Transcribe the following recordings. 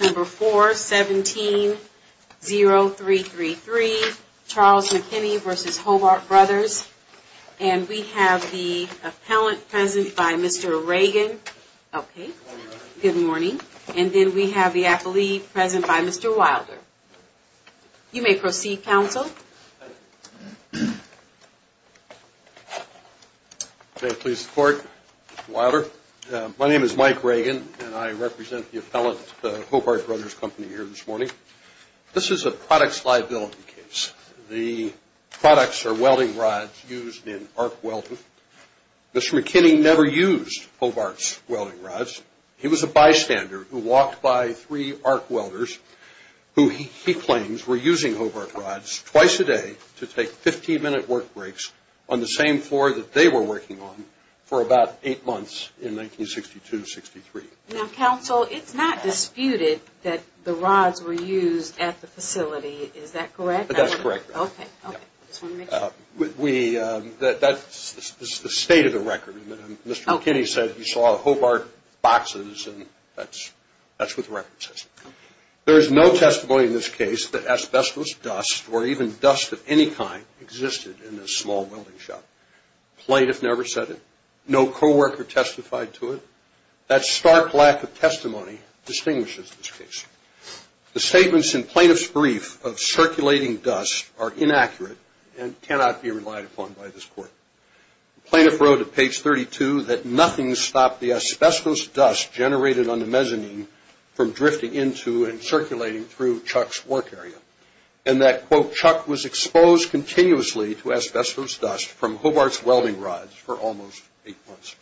Number 4, 17-0333, Charles McKinney v. Hobart Brothers. And we have the appellant present by Mr. Reagan. Okay, good morning. And then we have the appellee present by Mr. Wilder. You may proceed, counsel. May I please report, Mr. Wilder? My name is Mike Reagan, and I represent the appellant at Hobart Brothers Company here this morning. This is a products liability case. The products are welding rods used in arc welding. Mr. McKinney never used Hobart's welding rods. He was a bystander who walked by three arc welders who he claims were using Hobart rods twice a day to take 15-minute work breaks on the same floor that they were working on for about eight months in 1962-63. Now, counsel, it's not disputed that the rods were used at the facility. Is that correct? That's correct. Okay. I just want to make sure. That's the state of the record. Mr. McKinney said he saw Hobart boxes, and that's what the record says. There is no testimony in this case that asbestos dust or even dust of any kind existed in this small welding shop. The plaintiff never said it. No coworker testified to it. That stark lack of testimony distinguishes this case. The statements in plaintiff's brief of circulating dust are inaccurate and cannot be relied upon by this court. The plaintiff wrote at page 32 that nothing stopped the asbestos dust generated on the mezzanine from drifting into and circulating through Chuck's work area, and that, quote, Chuck was exposed continuously to asbestos dust from Hobart's welding rods for almost eight months.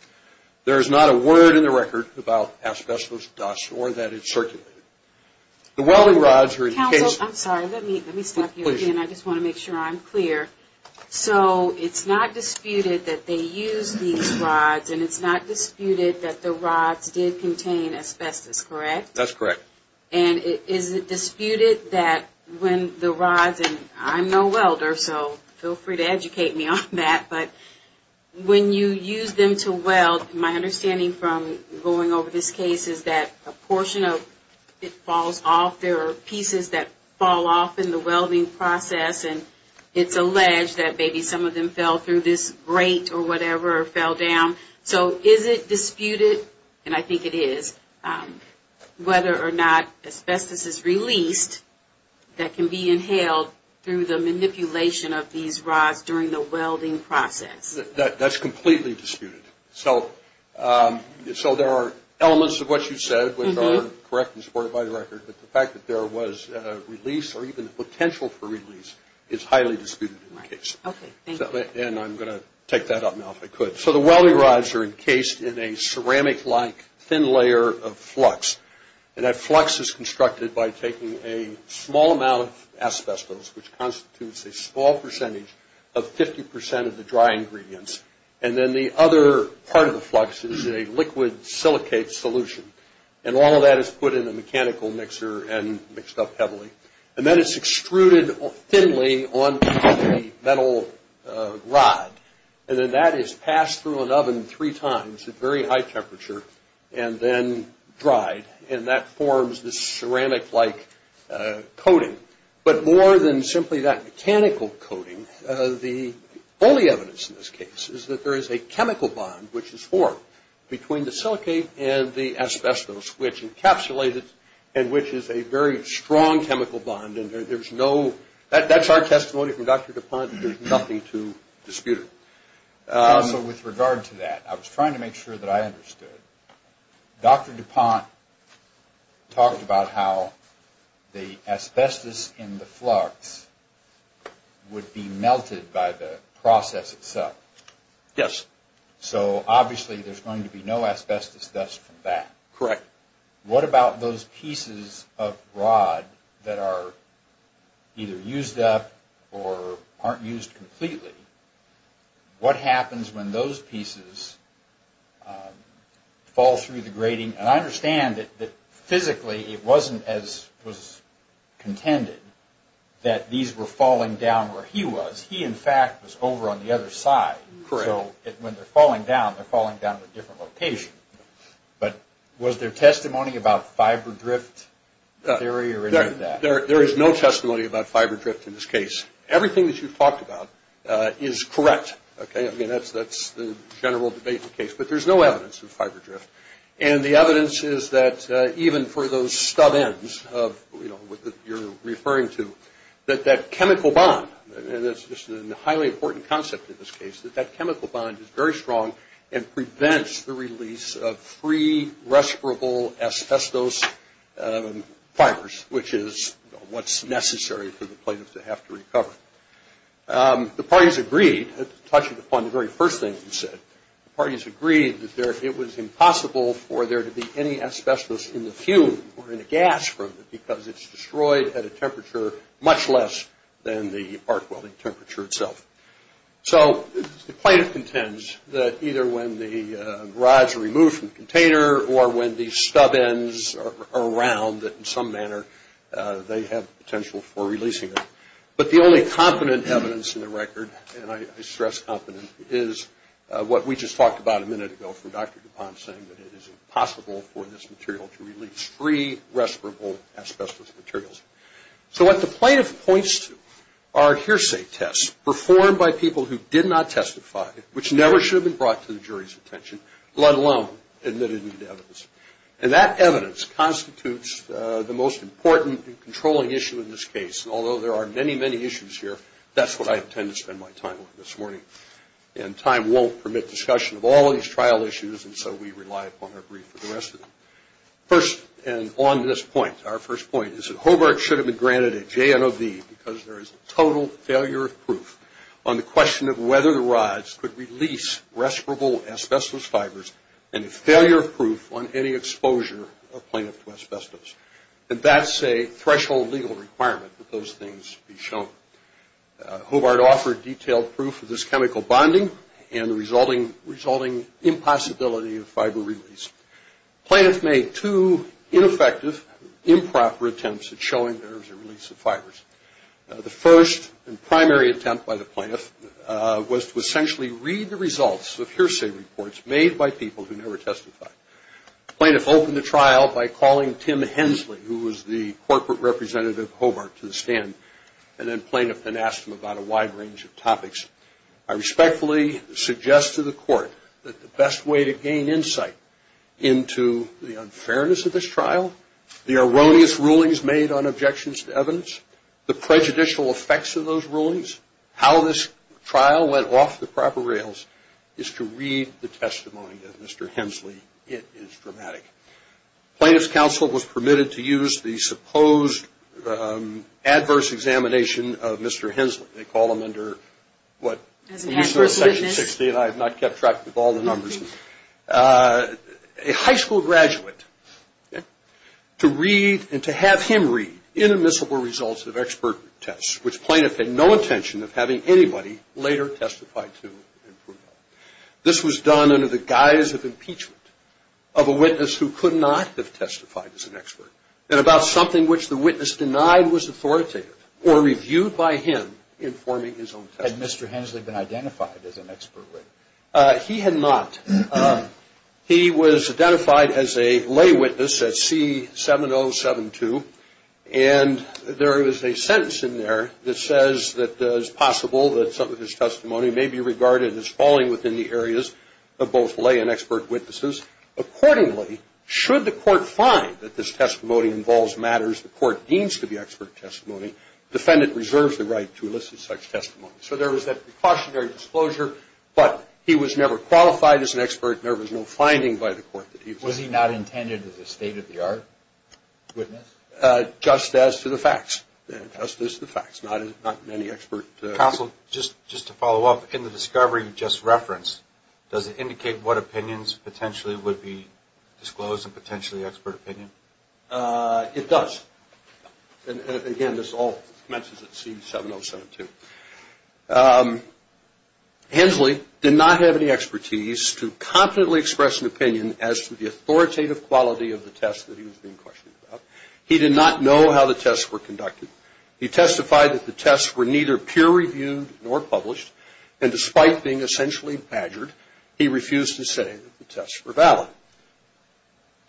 There is not a word in the record about asbestos dust or that it circulated. The welding rods were in case. Counsel, I'm sorry. Let me stop you again. I just want to make sure I'm clear. So it's not disputed that they used these rods, and it's not disputed that the rods did contain asbestos, correct? That's correct. And is it disputed that when the rods, and I'm no welder, so feel free to educate me on that, but when you use them to weld, my understanding from going over this case is that a portion of it falls off. There are pieces that fall off in the welding process, and it's alleged that maybe some of them fell through this grate or whatever or fell down. So is it disputed, and I think it is, whether or not asbestos is released that can be inhaled through the manipulation of these rods during the welding process? That's completely disputed. So there are elements of what you said which are correct and supported by the record, but the fact that there was release or even potential for release is highly disputed in the case. Okay. Thank you. And I'm going to take that up now if I could. So the welding rods are encased in a ceramic-like thin layer of flux, and that flux is constructed by taking a small amount of asbestos, which constitutes a small percentage of 50% of the dry ingredients, and then the other part of the flux is a liquid silicate solution, and all of that is put in a mechanical mixer and mixed up heavily. And then it's extruded thinly onto the metal rod, and then that is passed through an oven three times at very high temperature and then dried, and that forms this ceramic-like coating. But more than simply that mechanical coating, the only evidence in this case is that there is a chemical bond, which is formed between the silicate and the asbestos, which encapsulates it and which is a very strong chemical bond, and there's no – that's our testimony from Dr. DuPont. There's nothing to dispute it. So with regard to that, I was trying to make sure that I understood. Dr. DuPont talked about how the asbestos in the flux would be melted by the process itself. Yes. So obviously there's going to be no asbestos dust from that. Correct. What about those pieces of rod that are either used up or aren't used completely? What happens when those pieces fall through the grating? And I understand that physically it wasn't as was contended that these were falling down where he was. He, in fact, was over on the other side. Correct. So when they're falling down, they're falling down to a different location. But was there testimony about fiber drift theory or any of that? There is no testimony about fiber drift in this case. Everything that you've talked about is correct. I mean, that's the general debate in the case. But there's no evidence of fiber drift, and the evidence is that even for those stub ends of what you're referring to, that that chemical bond, and this is a highly important concept in this case, that that chemical bond is very strong and prevents the release of free respirable asbestos fibers, which is what's necessary for the plate to have to recover. The parties agreed, touching upon the very first thing you said, the parties agreed that it was impossible for there to be any asbestos in the fume or in the gas from it because it's destroyed at a temperature much less than the arc welding temperature itself. So the plaintiff contends that either when the rods are removed from the container or when the stub ends are around, that in some manner they have potential for releasing it. But the only competent evidence in the record, and I stress competent, is what we just talked about a minute ago from Dr. DuPont saying that it is impossible for this material to release free respirable asbestos materials. So what the plaintiff points to are hearsay tests performed by people who did not testify, which never should have been brought to the jury's attention, let alone admittedly to evidence. And that evidence constitutes the most important and controlling issue in this case, and although there are many, many issues here, that's what I intend to spend my time on this morning. And time won't permit discussion of all of these trial issues, and so we rely upon our brief for the rest of it. First, and on this point, our first point is that Hobart should have been granted a JNOV because there is a total failure of proof on the question of whether the rods could release respirable asbestos fibers and a failure of proof on any exposure of plaintiff to asbestos. And that's a threshold legal requirement that those things be shown. Hobart offered detailed proof of this chemical bonding and the resulting impossibility of fiber release. Plaintiff made two ineffective, improper attempts at showing there was a release of fibers. The first and primary attempt by the plaintiff was to essentially read the results of hearsay reports made by people who never testified. The plaintiff opened the trial by calling Tim Hensley, who was the corporate representative of Hobart, to the stand, and then plaintiff then asked him about a wide range of topics. I respectfully suggest to the court that the best way to gain insight into the unfairness of this trial, the erroneous rulings made on objections to evidence, the prejudicial effects of those rulings, how this trial went off the proper rails, is to read the testimony of Mr. Hensley. It is dramatic. Plaintiff's counsel was permitted to use the supposed adverse examination of Mr. Hensley. They call him under what? Section 16. I have not kept track of all the numbers. A high school graduate to read and to have him read inadmissible results of expert tests, which plaintiff had no intention of having anybody later testify to. This was done under the guise of impeachment of a witness who could not have testified as an expert and about something which the witness denied was authoritative or reviewed by him informing his own testimony. Had Mr. Hensley been identified as an expert? He had not. He was identified as a lay witness at C7072, and there is a sentence in there that says that it's possible that some of his testimony may be regarded as falling within the areas of both lay and expert witnesses. Accordingly, should the court find that this testimony involves matters the court deems to be expert testimony, defendant reserves the right to elicit such testimony. So there was that precautionary disclosure, but he was never qualified as an expert, Was he not intended as a state-of-the-art witness? Just as to the facts. Counsel, just to follow up, in the discovery you just referenced, does it indicate what opinions potentially would be disclosed in potentially expert opinion? It does. Again, this all commences at C7072. Hensley did not have any expertise to competently express an opinion as to the authoritative quality of the test that he was being questioned about. He did not know how the tests were conducted. He testified that the tests were neither peer-reviewed nor published, and despite being essentially badgered, he refused to say that the tests were valid.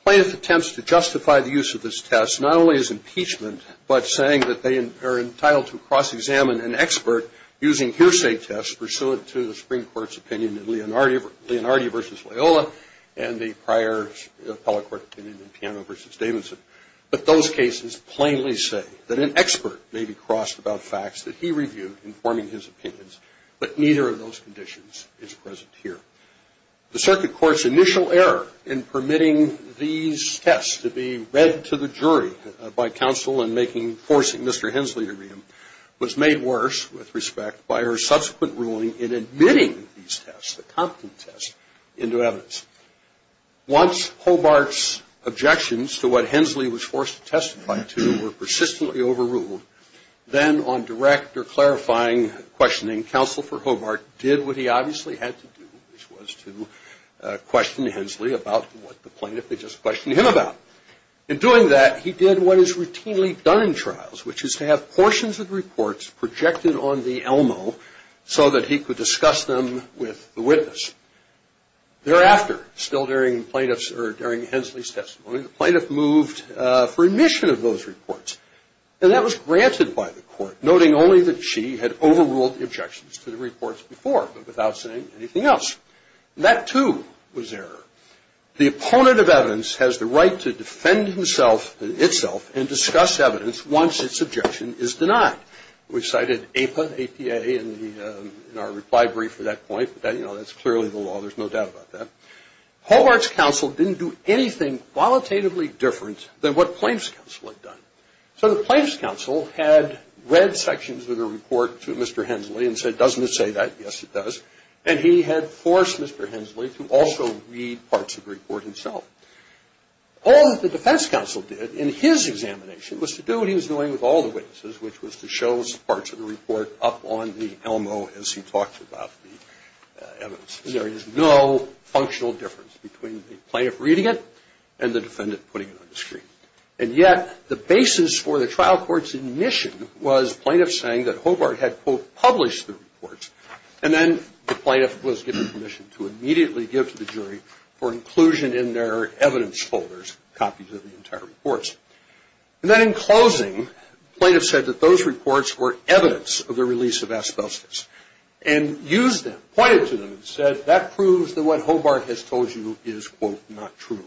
Plaintiff attempts to justify the use of this test not only as impeachment, but saying that they are entitled to cross-examine an expert using hearsay tests pursuant to the Supreme Court's opinion in Leonardi v. Loyola and the prior appellate court opinion in Piano v. Davidson. But those cases plainly say that an expert may be crossed about facts that he reviewed informing his opinions, but neither of those conditions is present here. The circuit court's initial error in permitting these tests to be read to the jury by counsel in forcing Mr. Hensley to read them was made worse, with respect, by her subsequent ruling in admitting these tests, the competent tests, into evidence. Once Hobart's objections to what Hensley was forced to testify to were persistently overruled, then on direct or clarifying questioning, counsel for Hobart did what he obviously had to do, which was to question Hensley about what the plaintiff had just questioned him about. In doing that, he did what is routinely done in trials, which is to have portions of reports projected on the ELMO so that he could discuss them with the witness. Thereafter, still during Hensley's testimony, the plaintiff moved for admission of those reports, and that was granted by the court, noting only that she had overruled the objections to the reports before, but without saying anything else. And that, too, was error. The opponent of evidence has the right to defend himself, itself, and discuss evidence once its objection is denied. We cited APA, A-P-A, in our reply brief at that point. You know, that's clearly the law. There's no doubt about that. Hobart's counsel didn't do anything qualitatively different than what Plaintiff's counsel had done. So the Plaintiff's counsel had read sections of the report to Mr. Hensley and said, doesn't it say that? Yes, it does. And he had forced Mr. Hensley to also read parts of the report himself. All that the defense counsel did in his examination was to do what he was doing with all the witnesses, which was to show parts of the report up on the ELMO as he talked about the evidence. There is no functional difference between the plaintiff reading it and the defendant putting it on the screen. And yet the basis for the trial court's admission was plaintiffs saying that Hobart had, quote, And then the plaintiff was given permission to immediately give to the jury for inclusion in their evidence folders, copies of the entire reports. And then in closing, plaintiff said that those reports were evidence of the release of asbestos and used them, pointed to them and said, that proves that what Hobart has told you is, quote, not true.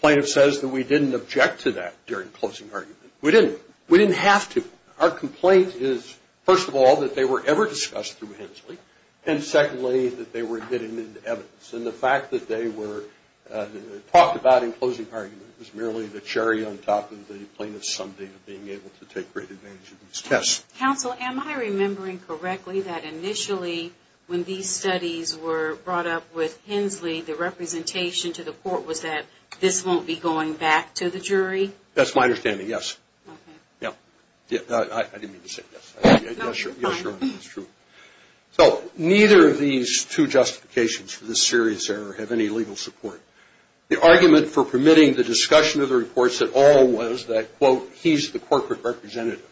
Plaintiff says that we didn't object to that during closing argument. We didn't. We didn't have to. Our complaint is, first of all, that they were ever discussed through Hensley. And secondly, that they were admitted into evidence. And the fact that they were talked about in closing argument was merely the cherry on top of the plaintiff's someday being able to take great advantage of these tests. Counsel, am I remembering correctly that initially when these studies were brought up with Hensley, the representation to the court was that this won't be going back to the jury? That's my understanding, yes. Yeah. I didn't mean to say yes. Yes, sure. It's true. So neither of these two justifications for this serious error have any legal support. The argument for permitting the discussion of the reports at all was that, quote, he's the corporate representative.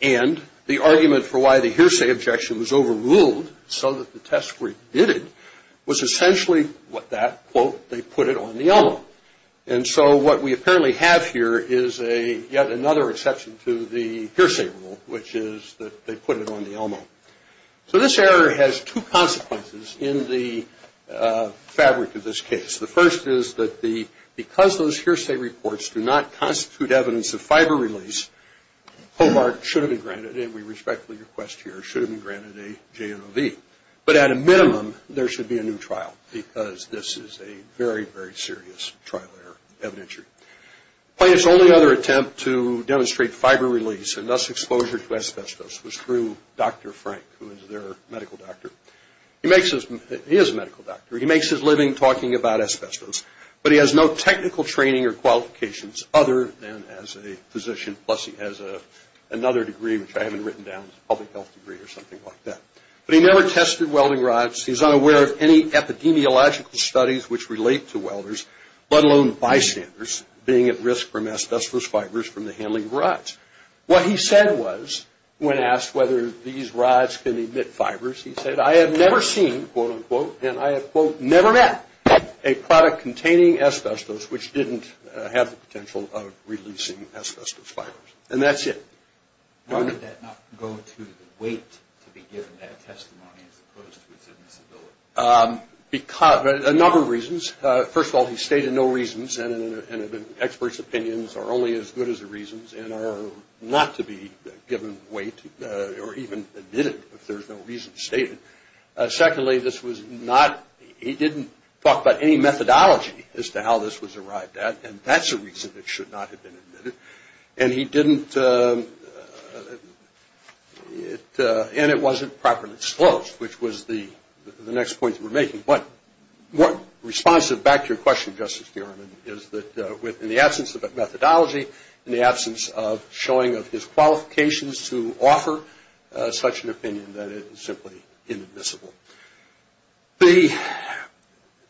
And the argument for why the hearsay objection was overruled so that the test were admitted was essentially what that, quote, they put it on the envelope. And so what we apparently have here is yet another exception to the hearsay rule, which is that they put it on the envelope. So this error has two consequences in the fabric of this case. The first is that because those hearsay reports do not constitute evidence of fiber release, Hobart should have been granted, and we respectfully request here, should have been granted a JMOV. But at a minimum, there should be a new trial because this is a very, very serious trial error evidentiary. Hobart's only other attempt to demonstrate fiber release and thus exposure to asbestos was through Dr. Frank, who is their medical doctor. He is a medical doctor. He makes his living talking about asbestos, but he has no technical training or qualifications other than as a physician, plus he has another degree, which I haven't written down, a public health degree or something like that. But he never tested welding rods. He's unaware of any epidemiological studies which relate to welders, let alone bystanders being at risk from asbestos fibers from the handling of rods. What he said was, when asked whether these rods can emit fibers, he said, I have never seen, quote, unquote, and I have, quote, never met a product containing asbestos, which didn't have the potential of releasing asbestos fibers. And that's it. Why did that not go to the weight to be given that testimony as opposed to its admissibility? A number of reasons. First of all, he stated no reasons, and experts' opinions are only as good as the reasons and are not to be given weight or even admitted if there's no reason stated. Secondly, this was not – he didn't talk about any methodology as to how this was arrived at, and that's a reason it should not have been admitted. And he didn't – and it wasn't properly disclosed, which was the next point that we're making. But responsive back to your question, Justice Durham, is that in the absence of a methodology, in the absence of showing of his qualifications to offer such an opinion, that it is simply inadmissible. The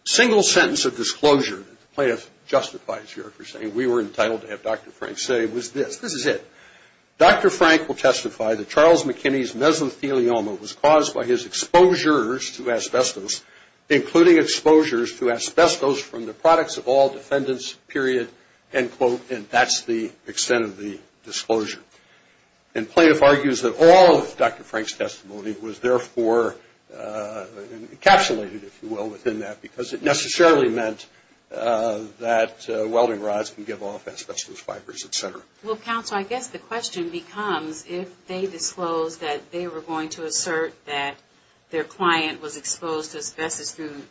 single sentence of disclosure that the plaintiff justifies here for saying we were entitled to have Dr. Frank say was this. This is it. Dr. Frank will testify that Charles McKinney's mesothelioma was caused by his exposures to asbestos, including exposures to asbestos from the products of all defendants, period, end quote, and that's the extent of the disclosure. And plaintiff argues that all of Dr. Frank's testimony was therefore encapsulated, if you will, within that because it necessarily meant that welding rods can give off asbestos fibers, et cetera. Well, counsel, I guess the question becomes if they disclose that they were going to assert that their client was exposed to asbestos through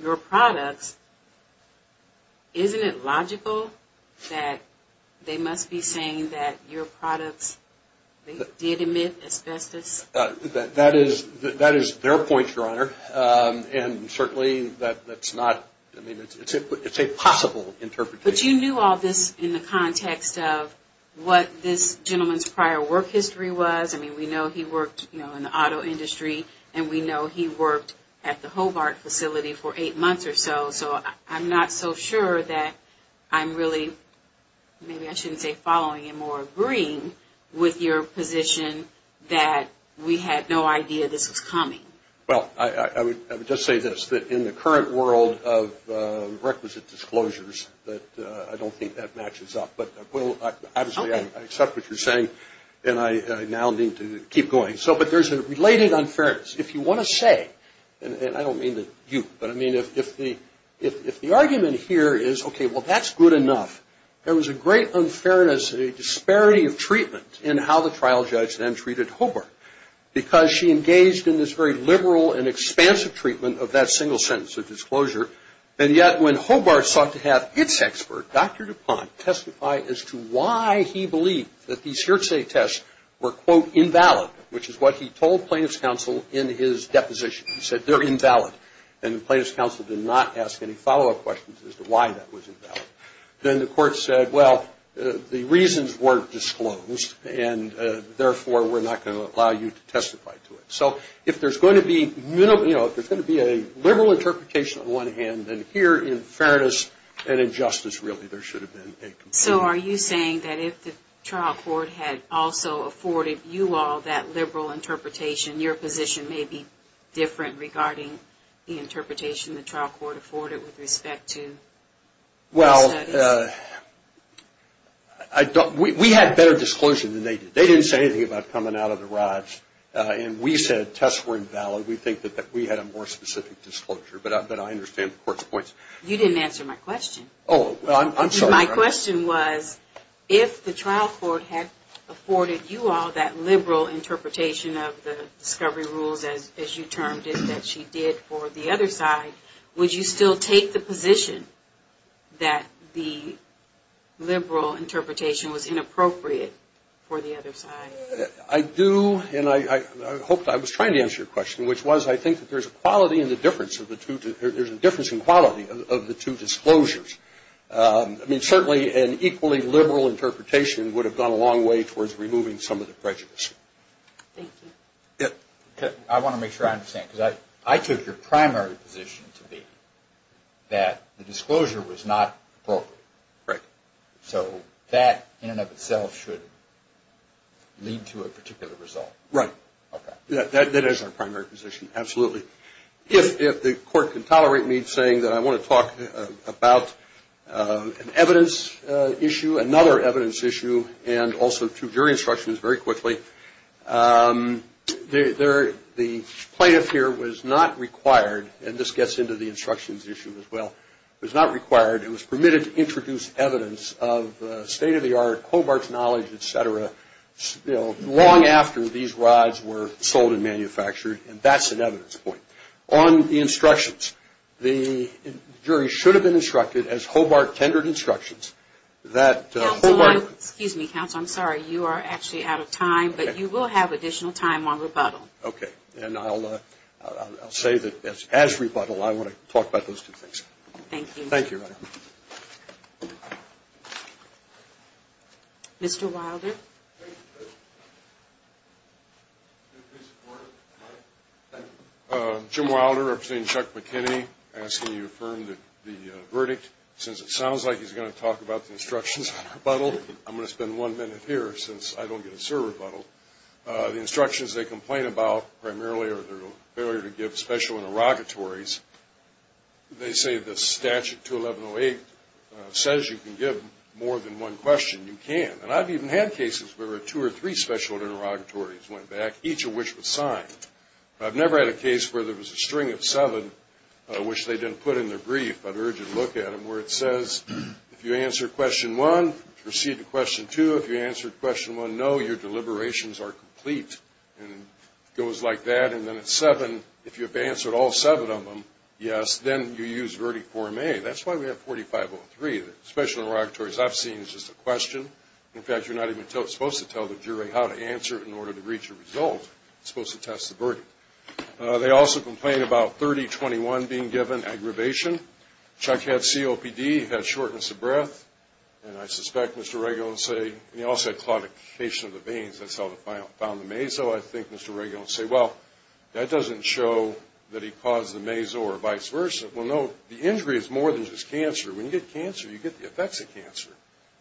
your products, isn't it logical that they must be saying that your products did emit asbestos? That is their point, Your Honor, and certainly that's not, I mean, it's a possible interpretation. But you knew all this in the context of what this gentleman's prior work history was. I mean, we know he worked, you know, in the auto industry, and we know he worked at the Hobart facility for eight months or so. So I'm not so sure that I'm really, maybe I shouldn't say following him, or agreeing with your position that we had no idea this was coming. Well, I would just say this, that in the current world of requisite disclosures, that I don't think that matches up. But obviously I accept what you're saying, and I now need to keep going. But there's a related unfairness. If you want to say, and I don't mean that you, but I mean if the argument here is, okay, well, that's good enough. There was a great unfairness, a disparity of treatment in how the trial judge then treated Hobart, because she engaged in this very liberal and expansive treatment of that single sentence of disclosure. And yet when Hobart sought to have its expert, Dr. DuPont, testify as to why he believed that these hearsay tests were, quote, invalid, which is what he told plaintiff's counsel in his deposition. He said they're invalid. And the plaintiff's counsel did not ask any follow-up questions as to why that was invalid. Then the court said, well, the reasons weren't disclosed, and therefore we're not going to allow you to testify to it. So if there's going to be, you know, if there's going to be a liberal interpretation on the one hand, then here in fairness and in justice, really, there should have been a complaint. So are you saying that if the trial court had also afforded you all that liberal interpretation, your position may be different regarding the interpretation the trial court afforded with respect to those studies? Well, we had better disclosure than they did. They didn't say anything about coming out of the rods, and we said tests were invalid. We think that we had a more specific disclosure, but I understand the court's points. You didn't answer my question. Oh, well, I'm sorry. My question was if the trial court had afforded you all that liberal interpretation of the discovery rules, as you termed it, that she did for the other side, would you still take the position that the liberal interpretation was inappropriate for the other side? I do, and I was trying to answer your question, which was I think that there's a difference in quality of the two disclosures. I mean, certainly an equally liberal interpretation would have gone a long way towards removing some of the prejudice. Thank you. I want to make sure I understand, because I took your primary position to be that the disclosure was not appropriate. Right. So that, in and of itself, should lead to a particular result. Right. Okay. That is our primary position, absolutely. If the court can tolerate me saying that I want to talk about an evidence issue, another evidence issue, and also to your instructions very quickly, the plaintiff here was not required, and this gets into the instructions issue as well, was not required. It was permitted to introduce evidence of state-of-the-art co-mart knowledge, et cetera, long after these rides were sold and manufactured, and that's an evidence point. On the instructions, the jury should have been instructed as Hobart tendered instructions that Hobart. Excuse me, counsel. I'm sorry. You are actually out of time, but you will have additional time on rebuttal. Okay. And I'll say that as rebuttal, I want to talk about those two things. Thank you. Thank you. Thank you. Mr. Wilder. Jim Wilder, representing Chuck McKinney, asking you to affirm the verdict. Since it sounds like he's going to talk about the instructions on rebuttal, I'm going to spend one minute here since I don't get to serve rebuttal. The instructions they complain about primarily are their failure to give special interrogatories. They say the statute, 21108, says you can give more than one question. You can. And I've even had cases where two or three special interrogatories went back, each of which was signed. I've never had a case where there was a string of seven, which they didn't put in their brief, but urge you to look at them, where it says, if you answer question one, proceed to question two. If you answer question one, no, your deliberations are complete, and it goes like that. And then at seven, if you have answered all seven of them, yes, then you use verdict 4A. That's why we have 4503. The special interrogatories I've seen is just a question. In fact, you're not even supposed to tell the jury how to answer in order to reach a result. You're supposed to test the verdict. They also complain about 3021 being given, aggravation. Chuck had COPD. He had shortness of breath. And I suspect Mr. Regula will say, and he also had claudication of the veins. That's how they found the measles. And so I think Mr. Regula will say, well, that doesn't show that he caused the measles or vice versa. Well, no, the injury is more than just cancer. When you get cancer, you get the effects of cancer.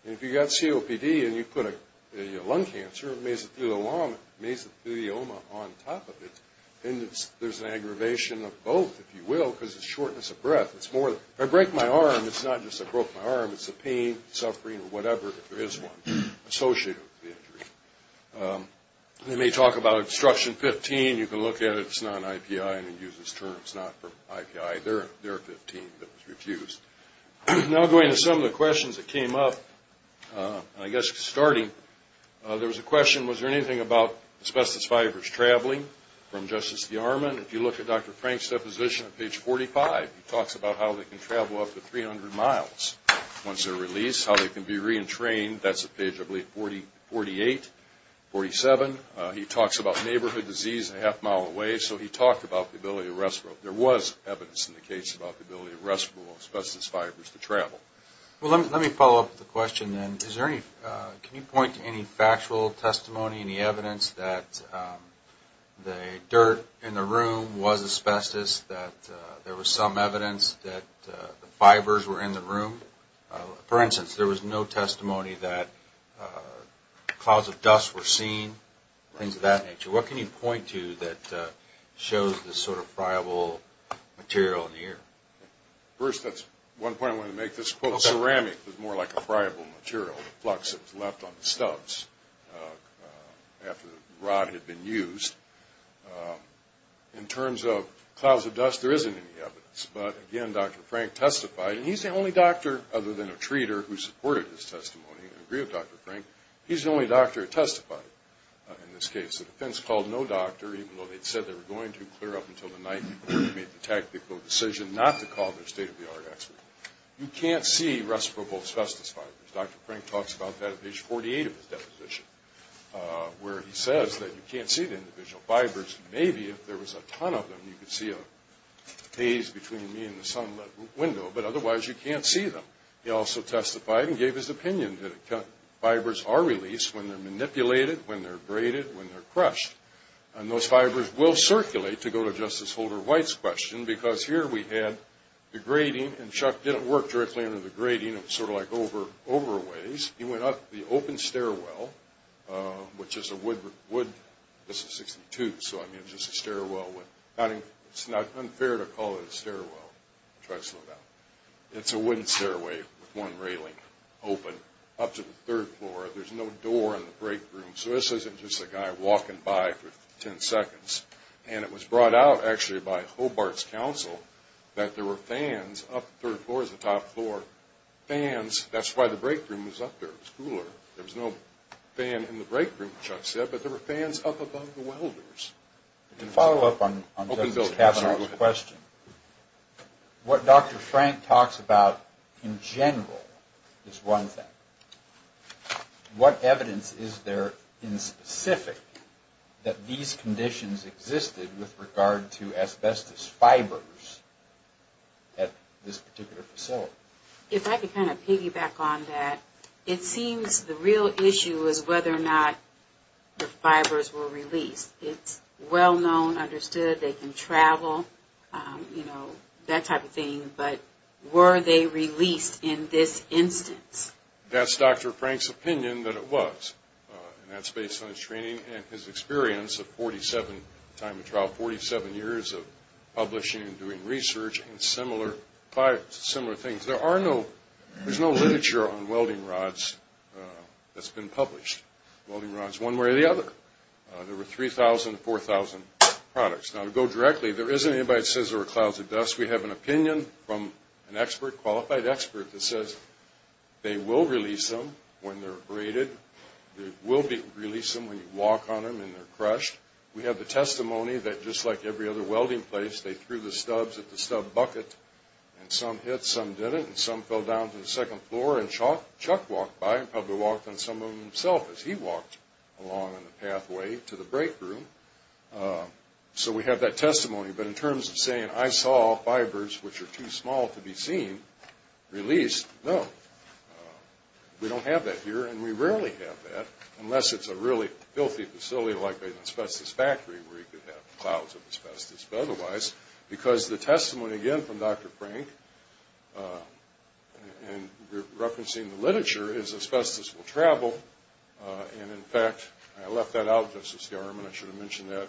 And if you've got COPD and you put a lung cancer, measles, flue, the lung, measles, flue, the ulma on top of it, then there's an aggravation of both, if you will, because it's shortness of breath. If I break my arm, it's not just I broke my arm. It's the pain, suffering, or whatever, if there is one, associated with the injury. They may talk about obstruction 15. You can look at it. It's not an IPI. I didn't use this term. It's not for IPI. There are 15 that was refused. Now going to some of the questions that came up, I guess starting, there was a question, was there anything about asbestos fibers traveling? From Justice DeArmond, if you look at Dr. Frank's deposition at page 45, he talks about how they can travel up to 300 miles once they're released, how they can be reentrained. That's at page, I believe, 48, 47. He talks about neighborhood disease a half mile away, so he talked about the ability to respirate. There was evidence in the case about the ability of respirable asbestos fibers to travel. Well, let me follow up with a question then. Can you point to any factual testimony, any evidence that the dirt in the room was asbestos, that there was some evidence that the fibers were in the room? For instance, there was no testimony that clouds of dust were seen, things of that nature. What can you point to that shows this sort of friable material in the air? First, that's one point I wanted to make. This quote, ceramic, was more like a friable material, the flux that was left on the stubs after the rod had been used. In terms of clouds of dust, there isn't any evidence. But, again, Dr. Frank testified, and he's the only doctor, other than a treater, who supported his testimony. I agree with Dr. Frank. He's the only doctor who testified in this case. The defense called no doctor, even though they'd said they were going to clear up until the night, made the tactical decision not to call their state-of-the-art expert. You can't see respirable asbestos fibers. Dr. Frank talks about that at page 48 of his deposition, where he says that you can't see the individual fibers. Maybe if there was a ton of them, you could see a haze between me and the sunlit window, but otherwise you can't see them. He also testified and gave his opinion that fibers are released when they're manipulated, when they're braided, when they're crushed. And those fibers will circulate, to go to Justice Holder White's question, because here we had the grading, and Chuck didn't work directly under the grading. It was sort of like over a ways. He went up the open stairwell, which is a wood, this is 62, so I mean it's just a stairwell. It's not unfair to call it a stairwell, Chuck said that. It's a wooden stairway with one railing open up to the third floor. There's no door in the break room, so this isn't just a guy walking by for 10 seconds. And it was brought out actually by Hobart's counsel that there were fans up, the third floor is the top floor, fans. It was cooler. There was no fan in the break room, Chuck said, but there were fans up above the welders. To follow up on Justice Kavanaugh's question, what Dr. Frank talks about in general is one thing. What evidence is there in specific that these conditions existed with regard to asbestos fibers at this particular facility? If I could kind of piggyback on that, it seems the real issue is whether or not the fibers were released. It's well known, understood, they can travel, you know, that type of thing, but were they released in this instance? That's Dr. Frank's opinion that it was, and that's based on his training and his experience of 47 time in trial, 47 years of publishing and doing research and similar things. There's no literature on welding rods that's been published. Welding rods one way or the other. There were 3,000, 4,000 products. Now, to go directly, there isn't anybody that says there were clouds of dust. We have an opinion from an expert, qualified expert, that says they will release them when they're abraded. They will release them when you walk on them and they're crushed. We have the testimony that just like every other welding place, they threw the stubs at the stub bucket, and some hit, some didn't, and some fell down to the second floor, and Chuck walked by and probably walked on some of them himself as he walked along on the pathway to the break room. So we have that testimony, but in terms of saying, I saw fibers which are too small to be seen released, no. We don't have that here, and we rarely have that, unless it's a really filthy facility like an asbestos factory where you could have clouds of asbestos. But otherwise, because the testimony, again, from Dr. Frank, and we're referencing the literature, is asbestos will travel, and in fact, I left that out, Justice Garman. I should have mentioned that.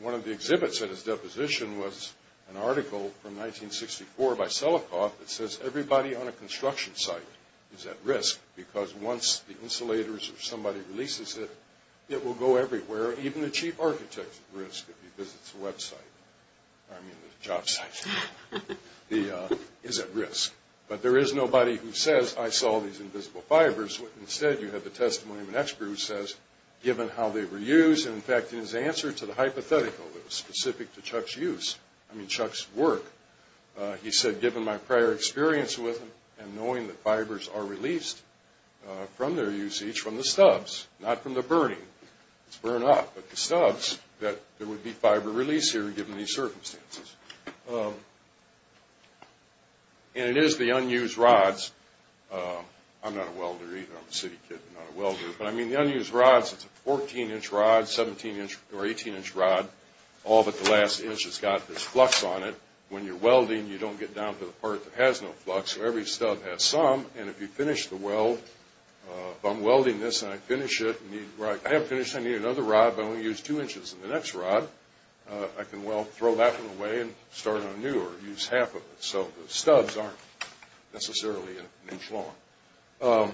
One of the exhibits at his deposition was an article from 1964 by Celikoff that says everybody on a construction site is at risk because once the insulators or somebody releases it, it will go everywhere. Even the chief architect is at risk if he visits the website, I mean the job site, is at risk. But there is nobody who says, I saw these invisible fibers. Instead, you have the testimony of an expert who says, given how they were used, and in fact, in his answer to the hypothetical that was specific to Chuck's use, I mean Chuck's work, he said, given my prior experience with them and knowing that fibers are released from their usage from the stubs, not from the burning, it's burned up, but the stubs, that there would be fiber release here given these circumstances. And it is the unused rods. I'm not a welder either, I'm a city kid, not a welder, but I mean the unused rods, it's a 14-inch rod, 17-inch or 18-inch rod, all but the last inch has got this flux on it. When you're welding, you don't get down to the part that has no flux, so every stub has some, and if you finish the weld, if I'm welding this and I finish it, I have finished, I need another rod, but I only used two inches in the next rod, I can throw that one away and start anew or use half of it. So the stubs aren't necessarily an inch long.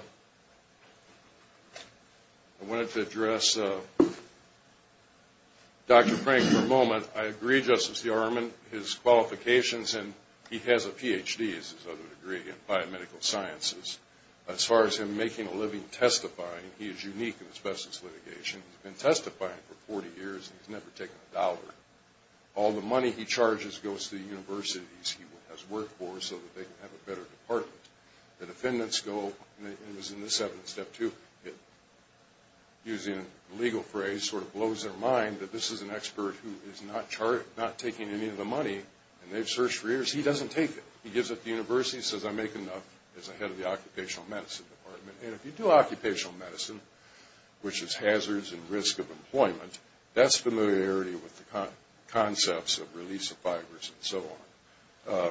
I wanted to address Dr. Frank for a moment. I agree, Justice Yarman, his qualifications, and he has a Ph.D. as his other degree in biomedical sciences. As far as him making a living testifying, he is unique in his business litigation. He's been testifying for 40 years and he's never taken a dollar. All the money he charges goes to the universities he has worked for so that they can have a better department. The defendants go, and it was in this evidence, Step 2, using a legal phrase, sort of blows their mind that this is an expert who is not taking any of the money, and they've searched for years. He doesn't take it. He gives it to the universities, says, I make enough as a head of the occupational medicine department. And if you do occupational medicine, which is hazards and risk of employment, that's familiarity with the concepts of release of fibers and so on.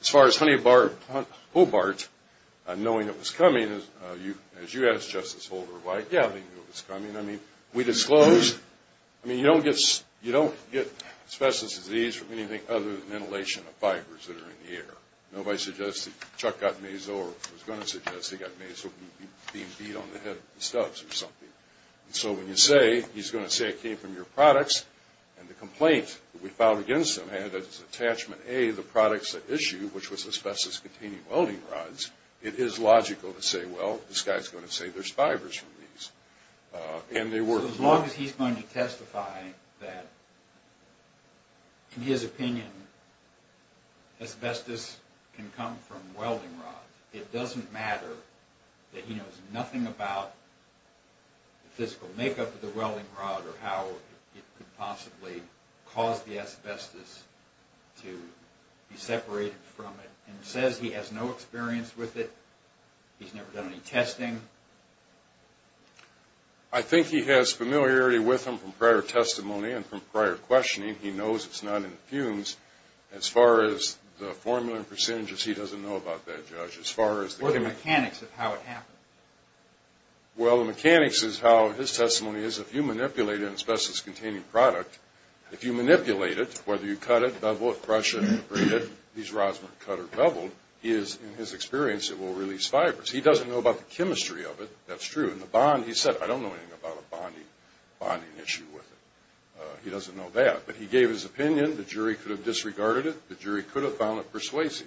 As far as Honeybart, Hobart, knowing it was coming, as you asked Justice Holder why, yeah, they knew it was coming. I mean, we disclosed, I mean, you don't get asbestos disease from anything other than inhalation of fibers that are in the air. Nobody suggested Chuck got measles or was going to suggest he got measles from being beat on the head of the stubs or something. And so when you say he's going to say it came from your products, and the complaint that we filed against him had as attachment A, the products at issue, which was asbestos-containing welding rods, it is logical to say, well, this guy's going to say there's fibers from these. And they were. So as long as he's going to testify that, in his opinion, asbestos can come from welding rods, it doesn't matter that he knows nothing about the physical makeup of the welding rod or how it could possibly cause the asbestos to be separated from it, and says he has no experience with it, he's never done any testing. I think he has familiarity with them from prior testimony and from prior questioning. He knows it's not in fumes. As far as the formula and percentages, he doesn't know about that, Judge. Or the mechanics of how it happened. Well, the mechanics is how his testimony is. If you manipulate an asbestos-containing product, if you manipulate it, whether you cut it, bevel it, brush it, abrade it, these rods were cut or beveled, he is, in his experience, it will release fibers. He doesn't know about the chemistry of it. That's true. And the bond, he said, I don't know anything about a bonding issue with it. He doesn't know that. But he gave his opinion. The jury could have disregarded it. The jury could have found it persuasive.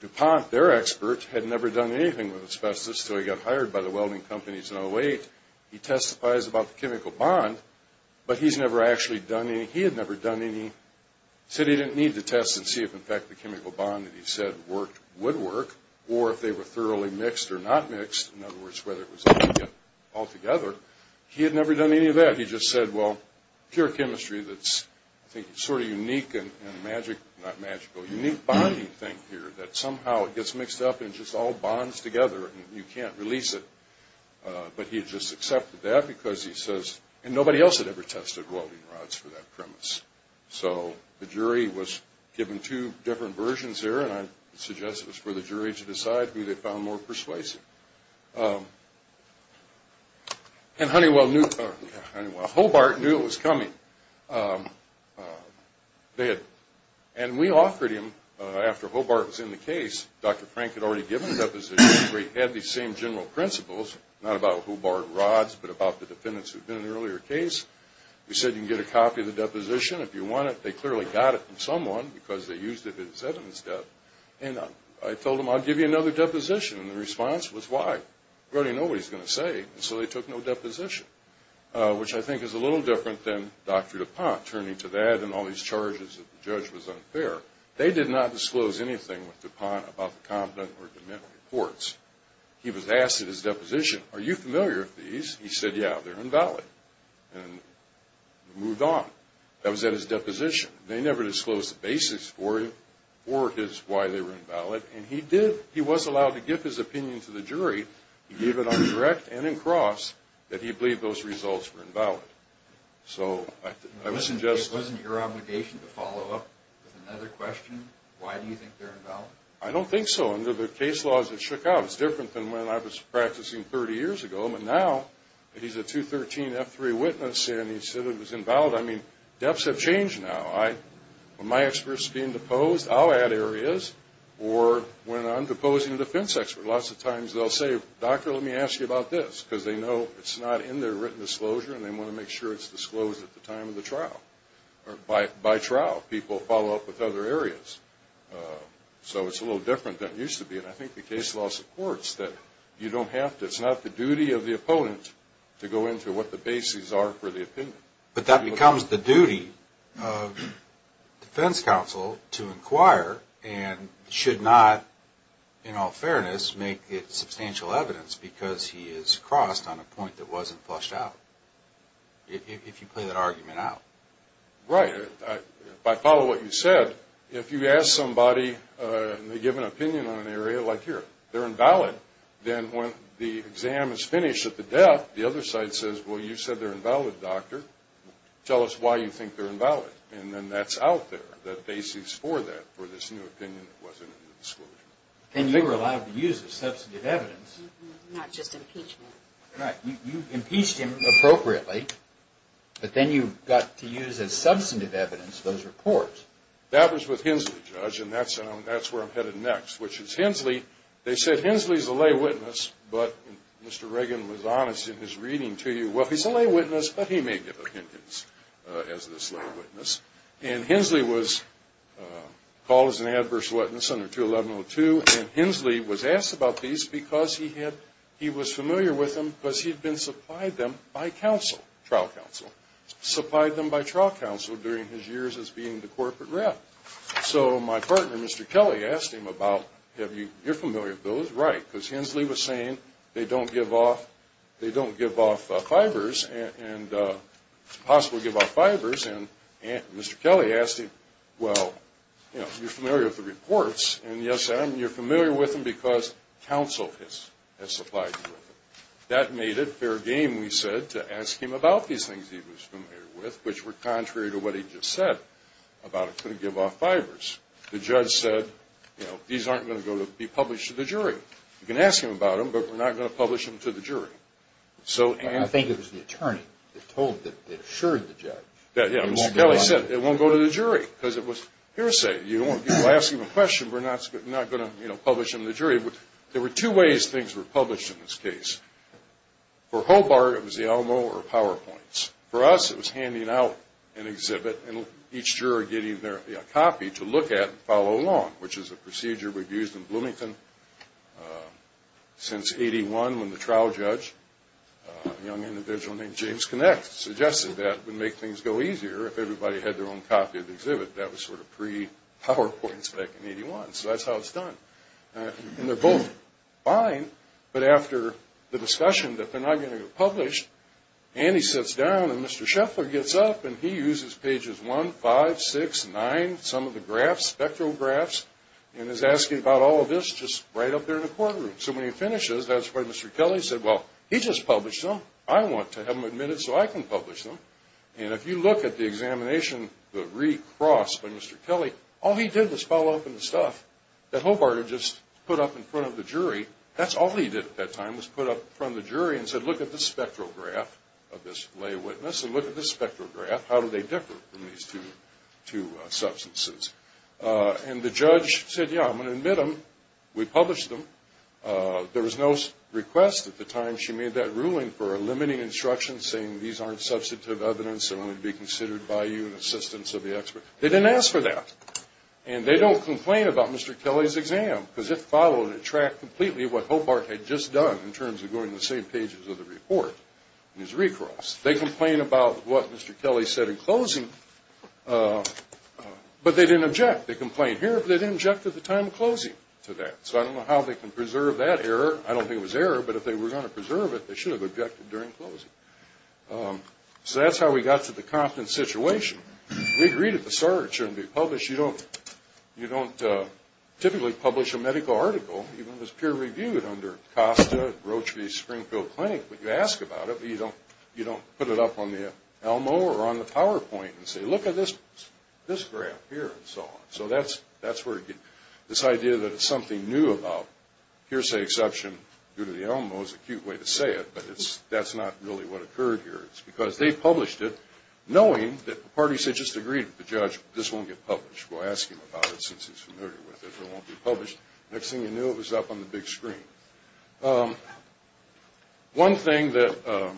DuPont, their expert, had never done anything with asbestos until he got hired by the welding companies in 08. He testifies about the chemical bond, but he's never actually done any. He had never done any. He said he didn't need to test and see if, in fact, the chemical bond that he said would work or if they were thoroughly mixed or not mixed. In other words, whether it was all together. He had never done any of that. He just said, well, pure chemistry that's, I think, sort of unique and magic, not magical, unique bonding thing here, that somehow it gets mixed up and just all bonds together and you can't release it. But he had just accepted that because he says, and nobody else had ever tested welding rods for that premise. So the jury was given two different versions there, and I suggest it was for the jury to decide who they found more persuasive. And Honeywell knew, Hobart knew it was coming. And we offered him, after Hobart was in the case, Dr. Frank had already given a deposition where he had these same general principles, not about Hobart rods, but about the defendants who'd been in an earlier case. We said you can get a copy of the deposition if you want it. They clearly got it from someone because they used it as evidence, and I told them, I'll give you another deposition. And the response was, why? We already know what he's going to say. And so they took no deposition, which I think is a little different than Dr. DuPont, turning to that and all these charges that the judge was unfair. They did not disclose anything with DuPont about the confidant or the mental reports. He was asked at his deposition, are you familiar with these? He said, yeah, they're invalid. And we moved on. That was at his deposition. They never disclosed the basics for him, for his why they were invalid, and he did, he was allowed to give his opinion to the jury. It wasn't your obligation to follow up with another question? Why do you think they're invalid? I don't think so. Under the case laws that shook out, it's different than when I was practicing 30 years ago. But now, he's a 213 F3 witness, and he said it was invalid. I mean, depths have changed now. When my expert's being deposed, I'll add areas, or when I'm deposing a defense expert. Lots of times they'll say, doctor, let me ask you about this, because they know it's not in their written disclosure, and they want to make sure it's disclosed at the time of the trial, or by trial. People follow up with other areas. So it's a little different than it used to be, and I think the case law supports that you don't have to, it's not the duty of the opponent to go into what the bases are for the opinion. But that becomes the duty of defense counsel to inquire, and should not, in all fairness, make it substantial evidence, because he is crossed on a point that wasn't flushed out, if you play that argument out. Right. If I follow what you said, if you ask somebody, and they give an opinion on an area like here, they're invalid. Then when the exam is finished at the depth, the other side says, well, you said they're invalid, doctor. Tell us why you think they're invalid. And then that's out there, the bases for that, for this new opinion that wasn't in the disclosure. And you were allowed to use it as substantive evidence. Not just impeachment. Right. You impeached him appropriately, but then you got to use as substantive evidence those reports. That was with Hensley, Judge, and that's where I'm headed next, which is Hensley, they said Hensley's a lay witness, but Mr. Reagan was honest in his reading to you. Well, he's a lay witness, but he may give opinions as this lay witness. And Hensley was called as an adverse witness under 21102, and Hensley was asked about these because he had, he was familiar with them, because he had been supplied them by counsel, trial counsel, supplied them by trial counsel during his years as being the corporate rep. So my partner, Mr. Kelly, asked him about, you're familiar with those, right, because Hensley was saying they don't give off fibers and it's impossible to give off fibers. And Mr. Kelly asked him, well, you're familiar with the reports, and yes, you're familiar with them because counsel has supplied you with them. That made it fair game, we said, to ask him about these things he was familiar with, which were contrary to what he just said about it couldn't give off fibers. The judge said, you know, these aren't going to be published to the jury. You can ask him about them, but we're not going to publish them to the jury. I think it was the attorney that told, that assured the judge. Yeah, Mr. Kelly said it won't go to the jury because it was hearsay. You don't want people asking a question, we're not going to, you know, publish them to the jury. There were two ways things were published in this case. For Hobart, it was the ELMO or PowerPoints. For us, it was handing out an exhibit and each juror getting their copy to look at and follow along, which is a procedure we've used in Bloomington since 81 when the trial judge, a young individual named James Connex, suggested that it would make things go easier if everybody had their own copy of the exhibit. That was sort of pre-PowerPoints back in 81, so that's how it's done. And they're both fine, but after the discussion that they're not going to get published, Andy sits down and Mr. Scheffler gets up and he uses pages 1, 5, 6, 9, some of the graphs, spectral graphs, and is asking about all of this just right up there in the courtroom. So when he finishes, that's when Mr. Kelly said, well, he just published them. I want to have them admitted so I can publish them. And if you look at the examination, the recross by Mr. Kelly, all he did was follow up on the stuff that Hobart had just put up in front of the jury. That's all he did at that time was put up in front of the jury and said, look at this spectral graph of this lay witness and look at this spectral graph. How do they differ from these two substances? And the judge said, yeah, I'm going to admit them. We published them. There was no request at the time she made that ruling for a limiting instruction saying, these aren't substantive evidence. They're only to be considered by you in assistance of the expert. They didn't ask for that. And they don't complain about Mr. Kelly's exam because it followed and tracked completely what Hobart had just done in terms of going to the same pages of the report, in his recross. They complain about what Mr. Kelly said in closing, but they didn't object. They complain here, but they didn't object at the time of closing to that. So I don't know how they can preserve that error. I don't think it was error, but if they were going to preserve it, they should have objected during closing. So that's how we got to the Compton situation. We agreed at the start it shouldn't be published. You don't typically publish a medical article, even if it's peer-reviewed, under Costa, Rochevy, Springfield Clinic. But you ask about it, but you don't put it up on the ELMO or on the PowerPoint and say, look at this graph here and so on. So that's where this idea that it's something new about, here's the exception due to the ELMO is a cute way to say it, but that's not really what occurred here. It's because they published it knowing that the parties had just agreed with the judge, this won't get published. We'll ask him about it since he's familiar with it. It won't be published. Next thing you knew, it was up on the big screen. One thing that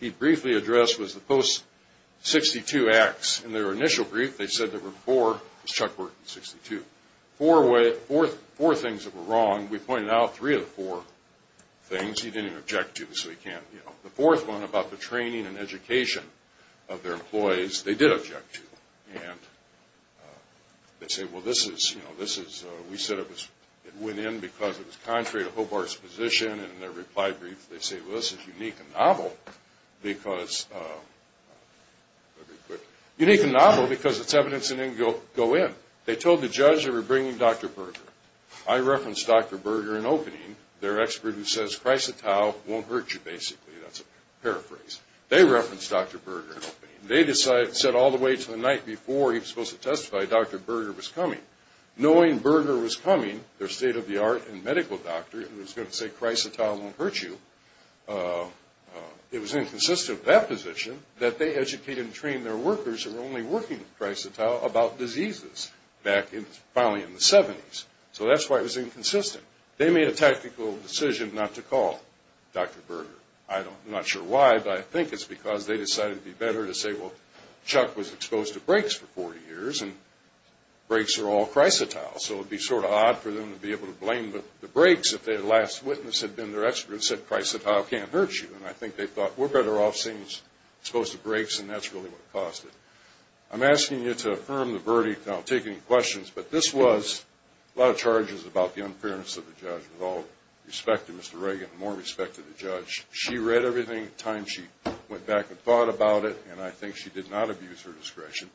he briefly addressed was the post-62 acts. In their initial brief, they said there were four, as Chuck worked in 62, four things that were wrong. We pointed out three of the four things. He didn't object to them, so he can't, you know. The fourth one about the training and education of their employees, they did object to. And they said, well, this is, you know, this is, we said it was, it went in because it was contrary to Hobart's position. And in their reply brief, they say, well, this is unique and novel because, unique and novel because it's evidence that didn't go in. They told the judge they were bringing Dr. Berger. I referenced Dr. Berger in opening. They're an expert who says Chrysotile won't hurt you, basically. That's a paraphrase. They referenced Dr. Berger in opening. They said all the way to the night before he was supposed to testify, Dr. Berger was coming. Knowing Berger was coming, their state-of-the-art and medical doctor, who was going to say Chrysotile won't hurt you, it was inconsistent with that position that they educated and trained their workers who were only working with Chrysotile about diseases back in, probably in the 70s. So that's why it was inconsistent. They made a tactical decision not to call Dr. Berger. I'm not sure why, but I think it's because they decided it would be better to say, well, Chuck was exposed to brakes for 40 years, and brakes are all Chrysotile. So it would be sort of odd for them to be able to blame the brakes if their last witness had been their expert and said Chrysotile can't hurt you. And I think they thought we're better off seeing he's exposed to brakes, and that's really what caused it. I'm asking you to affirm the verdict. I don't take any questions. But this was a lot of charges about the unfairness of the judge with all respect to Mr. Reagan and more respect to the judge. She read everything at the time she went back and thought about it, and I think she did not abuse her discretion.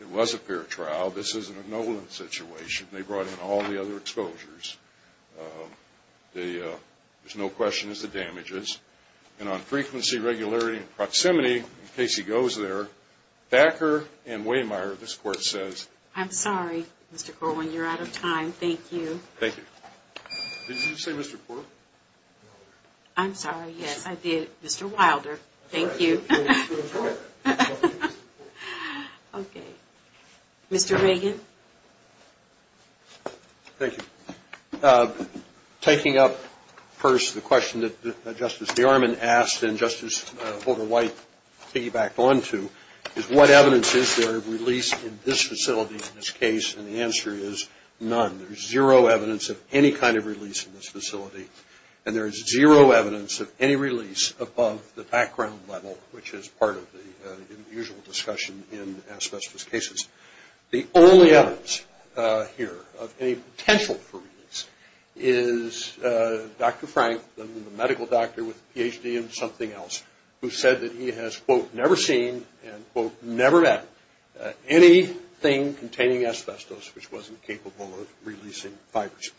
It was a fair trial. This isn't a Nolan situation. They brought in all the other exposures. There's no question as to damages. And on frequency, regularity, and proximity, in case he goes there, Thacker and Waymeier, this Court says. I'm sorry, Mr. Corwin. You're out of time. Thank you. Thank you. Did you say Mr. Corwin? I'm sorry. Yes, I did. Mr. Wilder. Thank you. Okay. Mr. Reagan. Thank you. Taking up first the question that Justice DeArmond asked and Justice Holder-White piggybacked onto is what evidence is there of release in this facility, in this case, and the answer is none. There's zero evidence of any kind of release in this facility, and there is zero evidence of any release above the background level, which is part of the usual discussion in asbestos cases. The only evidence here of any potential for release is Dr. Frank, the medical doctor with a PhD in something else, who said that he has, quote, never seen and, quote, never met anything containing asbestos which wasn't capable of releasing fibers.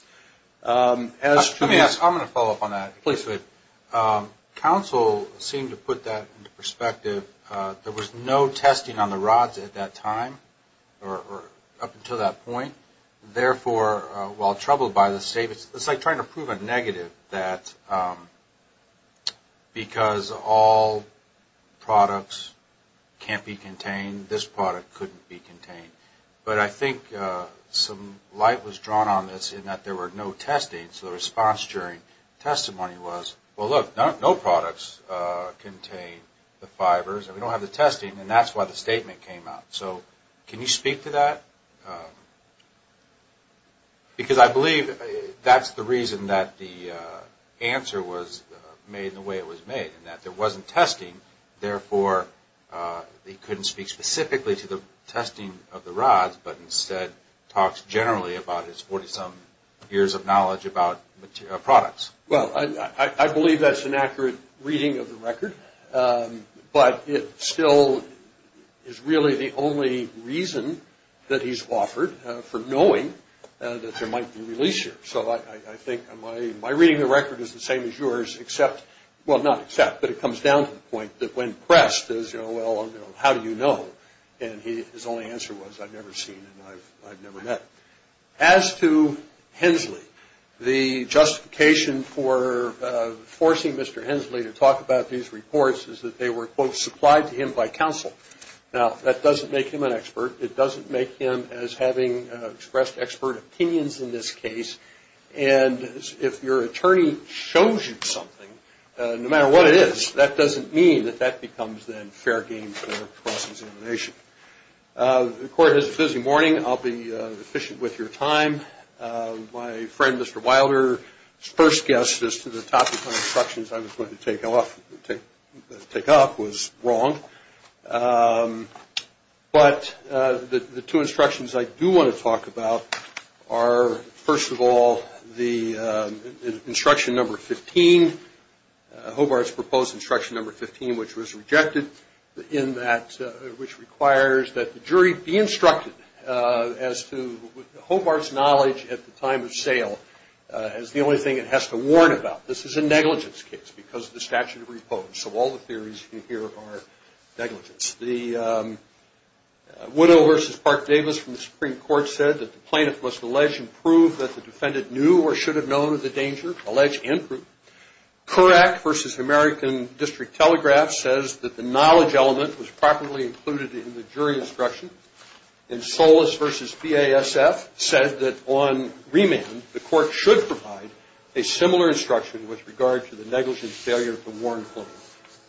Let me ask. I'm going to follow up on that. Please do. Counsel seemed to put that into perspective. There was no testing on the rods at that time or up until that point. Therefore, while troubled by the statement, it's like trying to prove a negative that because all products can't be contained, this product couldn't be contained. But I think some light was drawn on this in that there were no testing, so the response during testimony was, well, look, no products contain the fibers, and we don't have the testing, and that's why the statement came out. So can you speak to that? Because I believe that's the reason that the answer was made in the way it was made, in that there wasn't testing. Therefore, he couldn't speak specifically to the testing of the rods, but instead talks generally about his 40-some years of knowledge about products. But it still is really the only reason that he's offered for knowing that there might be a release here. So I think my reading of the record is the same as yours, except, well, not except, but it comes down to the point that when pressed is, well, how do you know? And his only answer was, I've never seen and I've never met. As to Hensley, the justification for forcing Mr. Hensley to talk about these reports is that they were, quote, supplied to him by counsel. Now, that doesn't make him an expert. It doesn't make him as having expressed expert opinions in this case. And if your attorney shows you something, no matter what it is, that doesn't mean that that becomes, then, fair game for the process of elimination. The court has a busy morning. I'll be efficient with your time. My friend, Mr. Wilder's first guess as to the topic of instructions I was going to take off was wrong. But the two instructions I do want to talk about are, first of all, the instruction number 15, Hobart's proposed instruction number 15, which was rejected in that, which requires that the jury be instructed as to Hobart's knowledge at the time of sale, as the only thing it has to warn about. This is a negligence case because of the statute of repose. So all the theories you hear are negligence. The widow versus Park Davis from the Supreme Court said that the plaintiff must allege and prove that the defendant knew or should have known of the danger, allege and prove. Courac versus American District Telegraph says that the knowledge element was properly included in the jury instruction. And Solis versus BASF said that on remand, the court should provide a similar instruction with regard to the negligence failure to warn,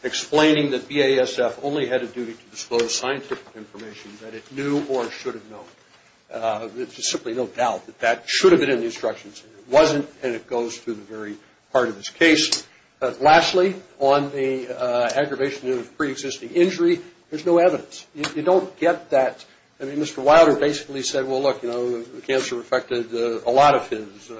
explaining that BASF only had a duty to disclose scientific information that it knew or should have known. There's simply no doubt that that should have been in the instructions. It wasn't, and it goes to the very heart of this case. Lastly, on the aggravation of preexisting injury, there's no evidence. You don't get that. I mean, Mr. Wilder basically said, well, look, cancer affected a lot of his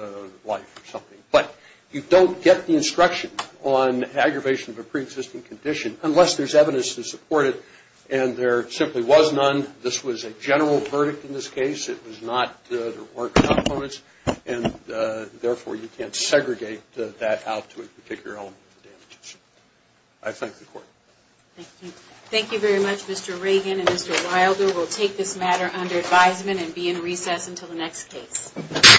life or something. But you don't get the instruction on aggravation of a preexisting condition unless there's evidence to support it, and there simply was none. This was a general verdict in this case. It was not the report components, and therefore you can't segregate that out to a particular element of damages. I thank the court. Thank you. Thank you very much, Mr. Reagan and Mr. Wilder. We'll take this matter under advisement and be in recess until the next case.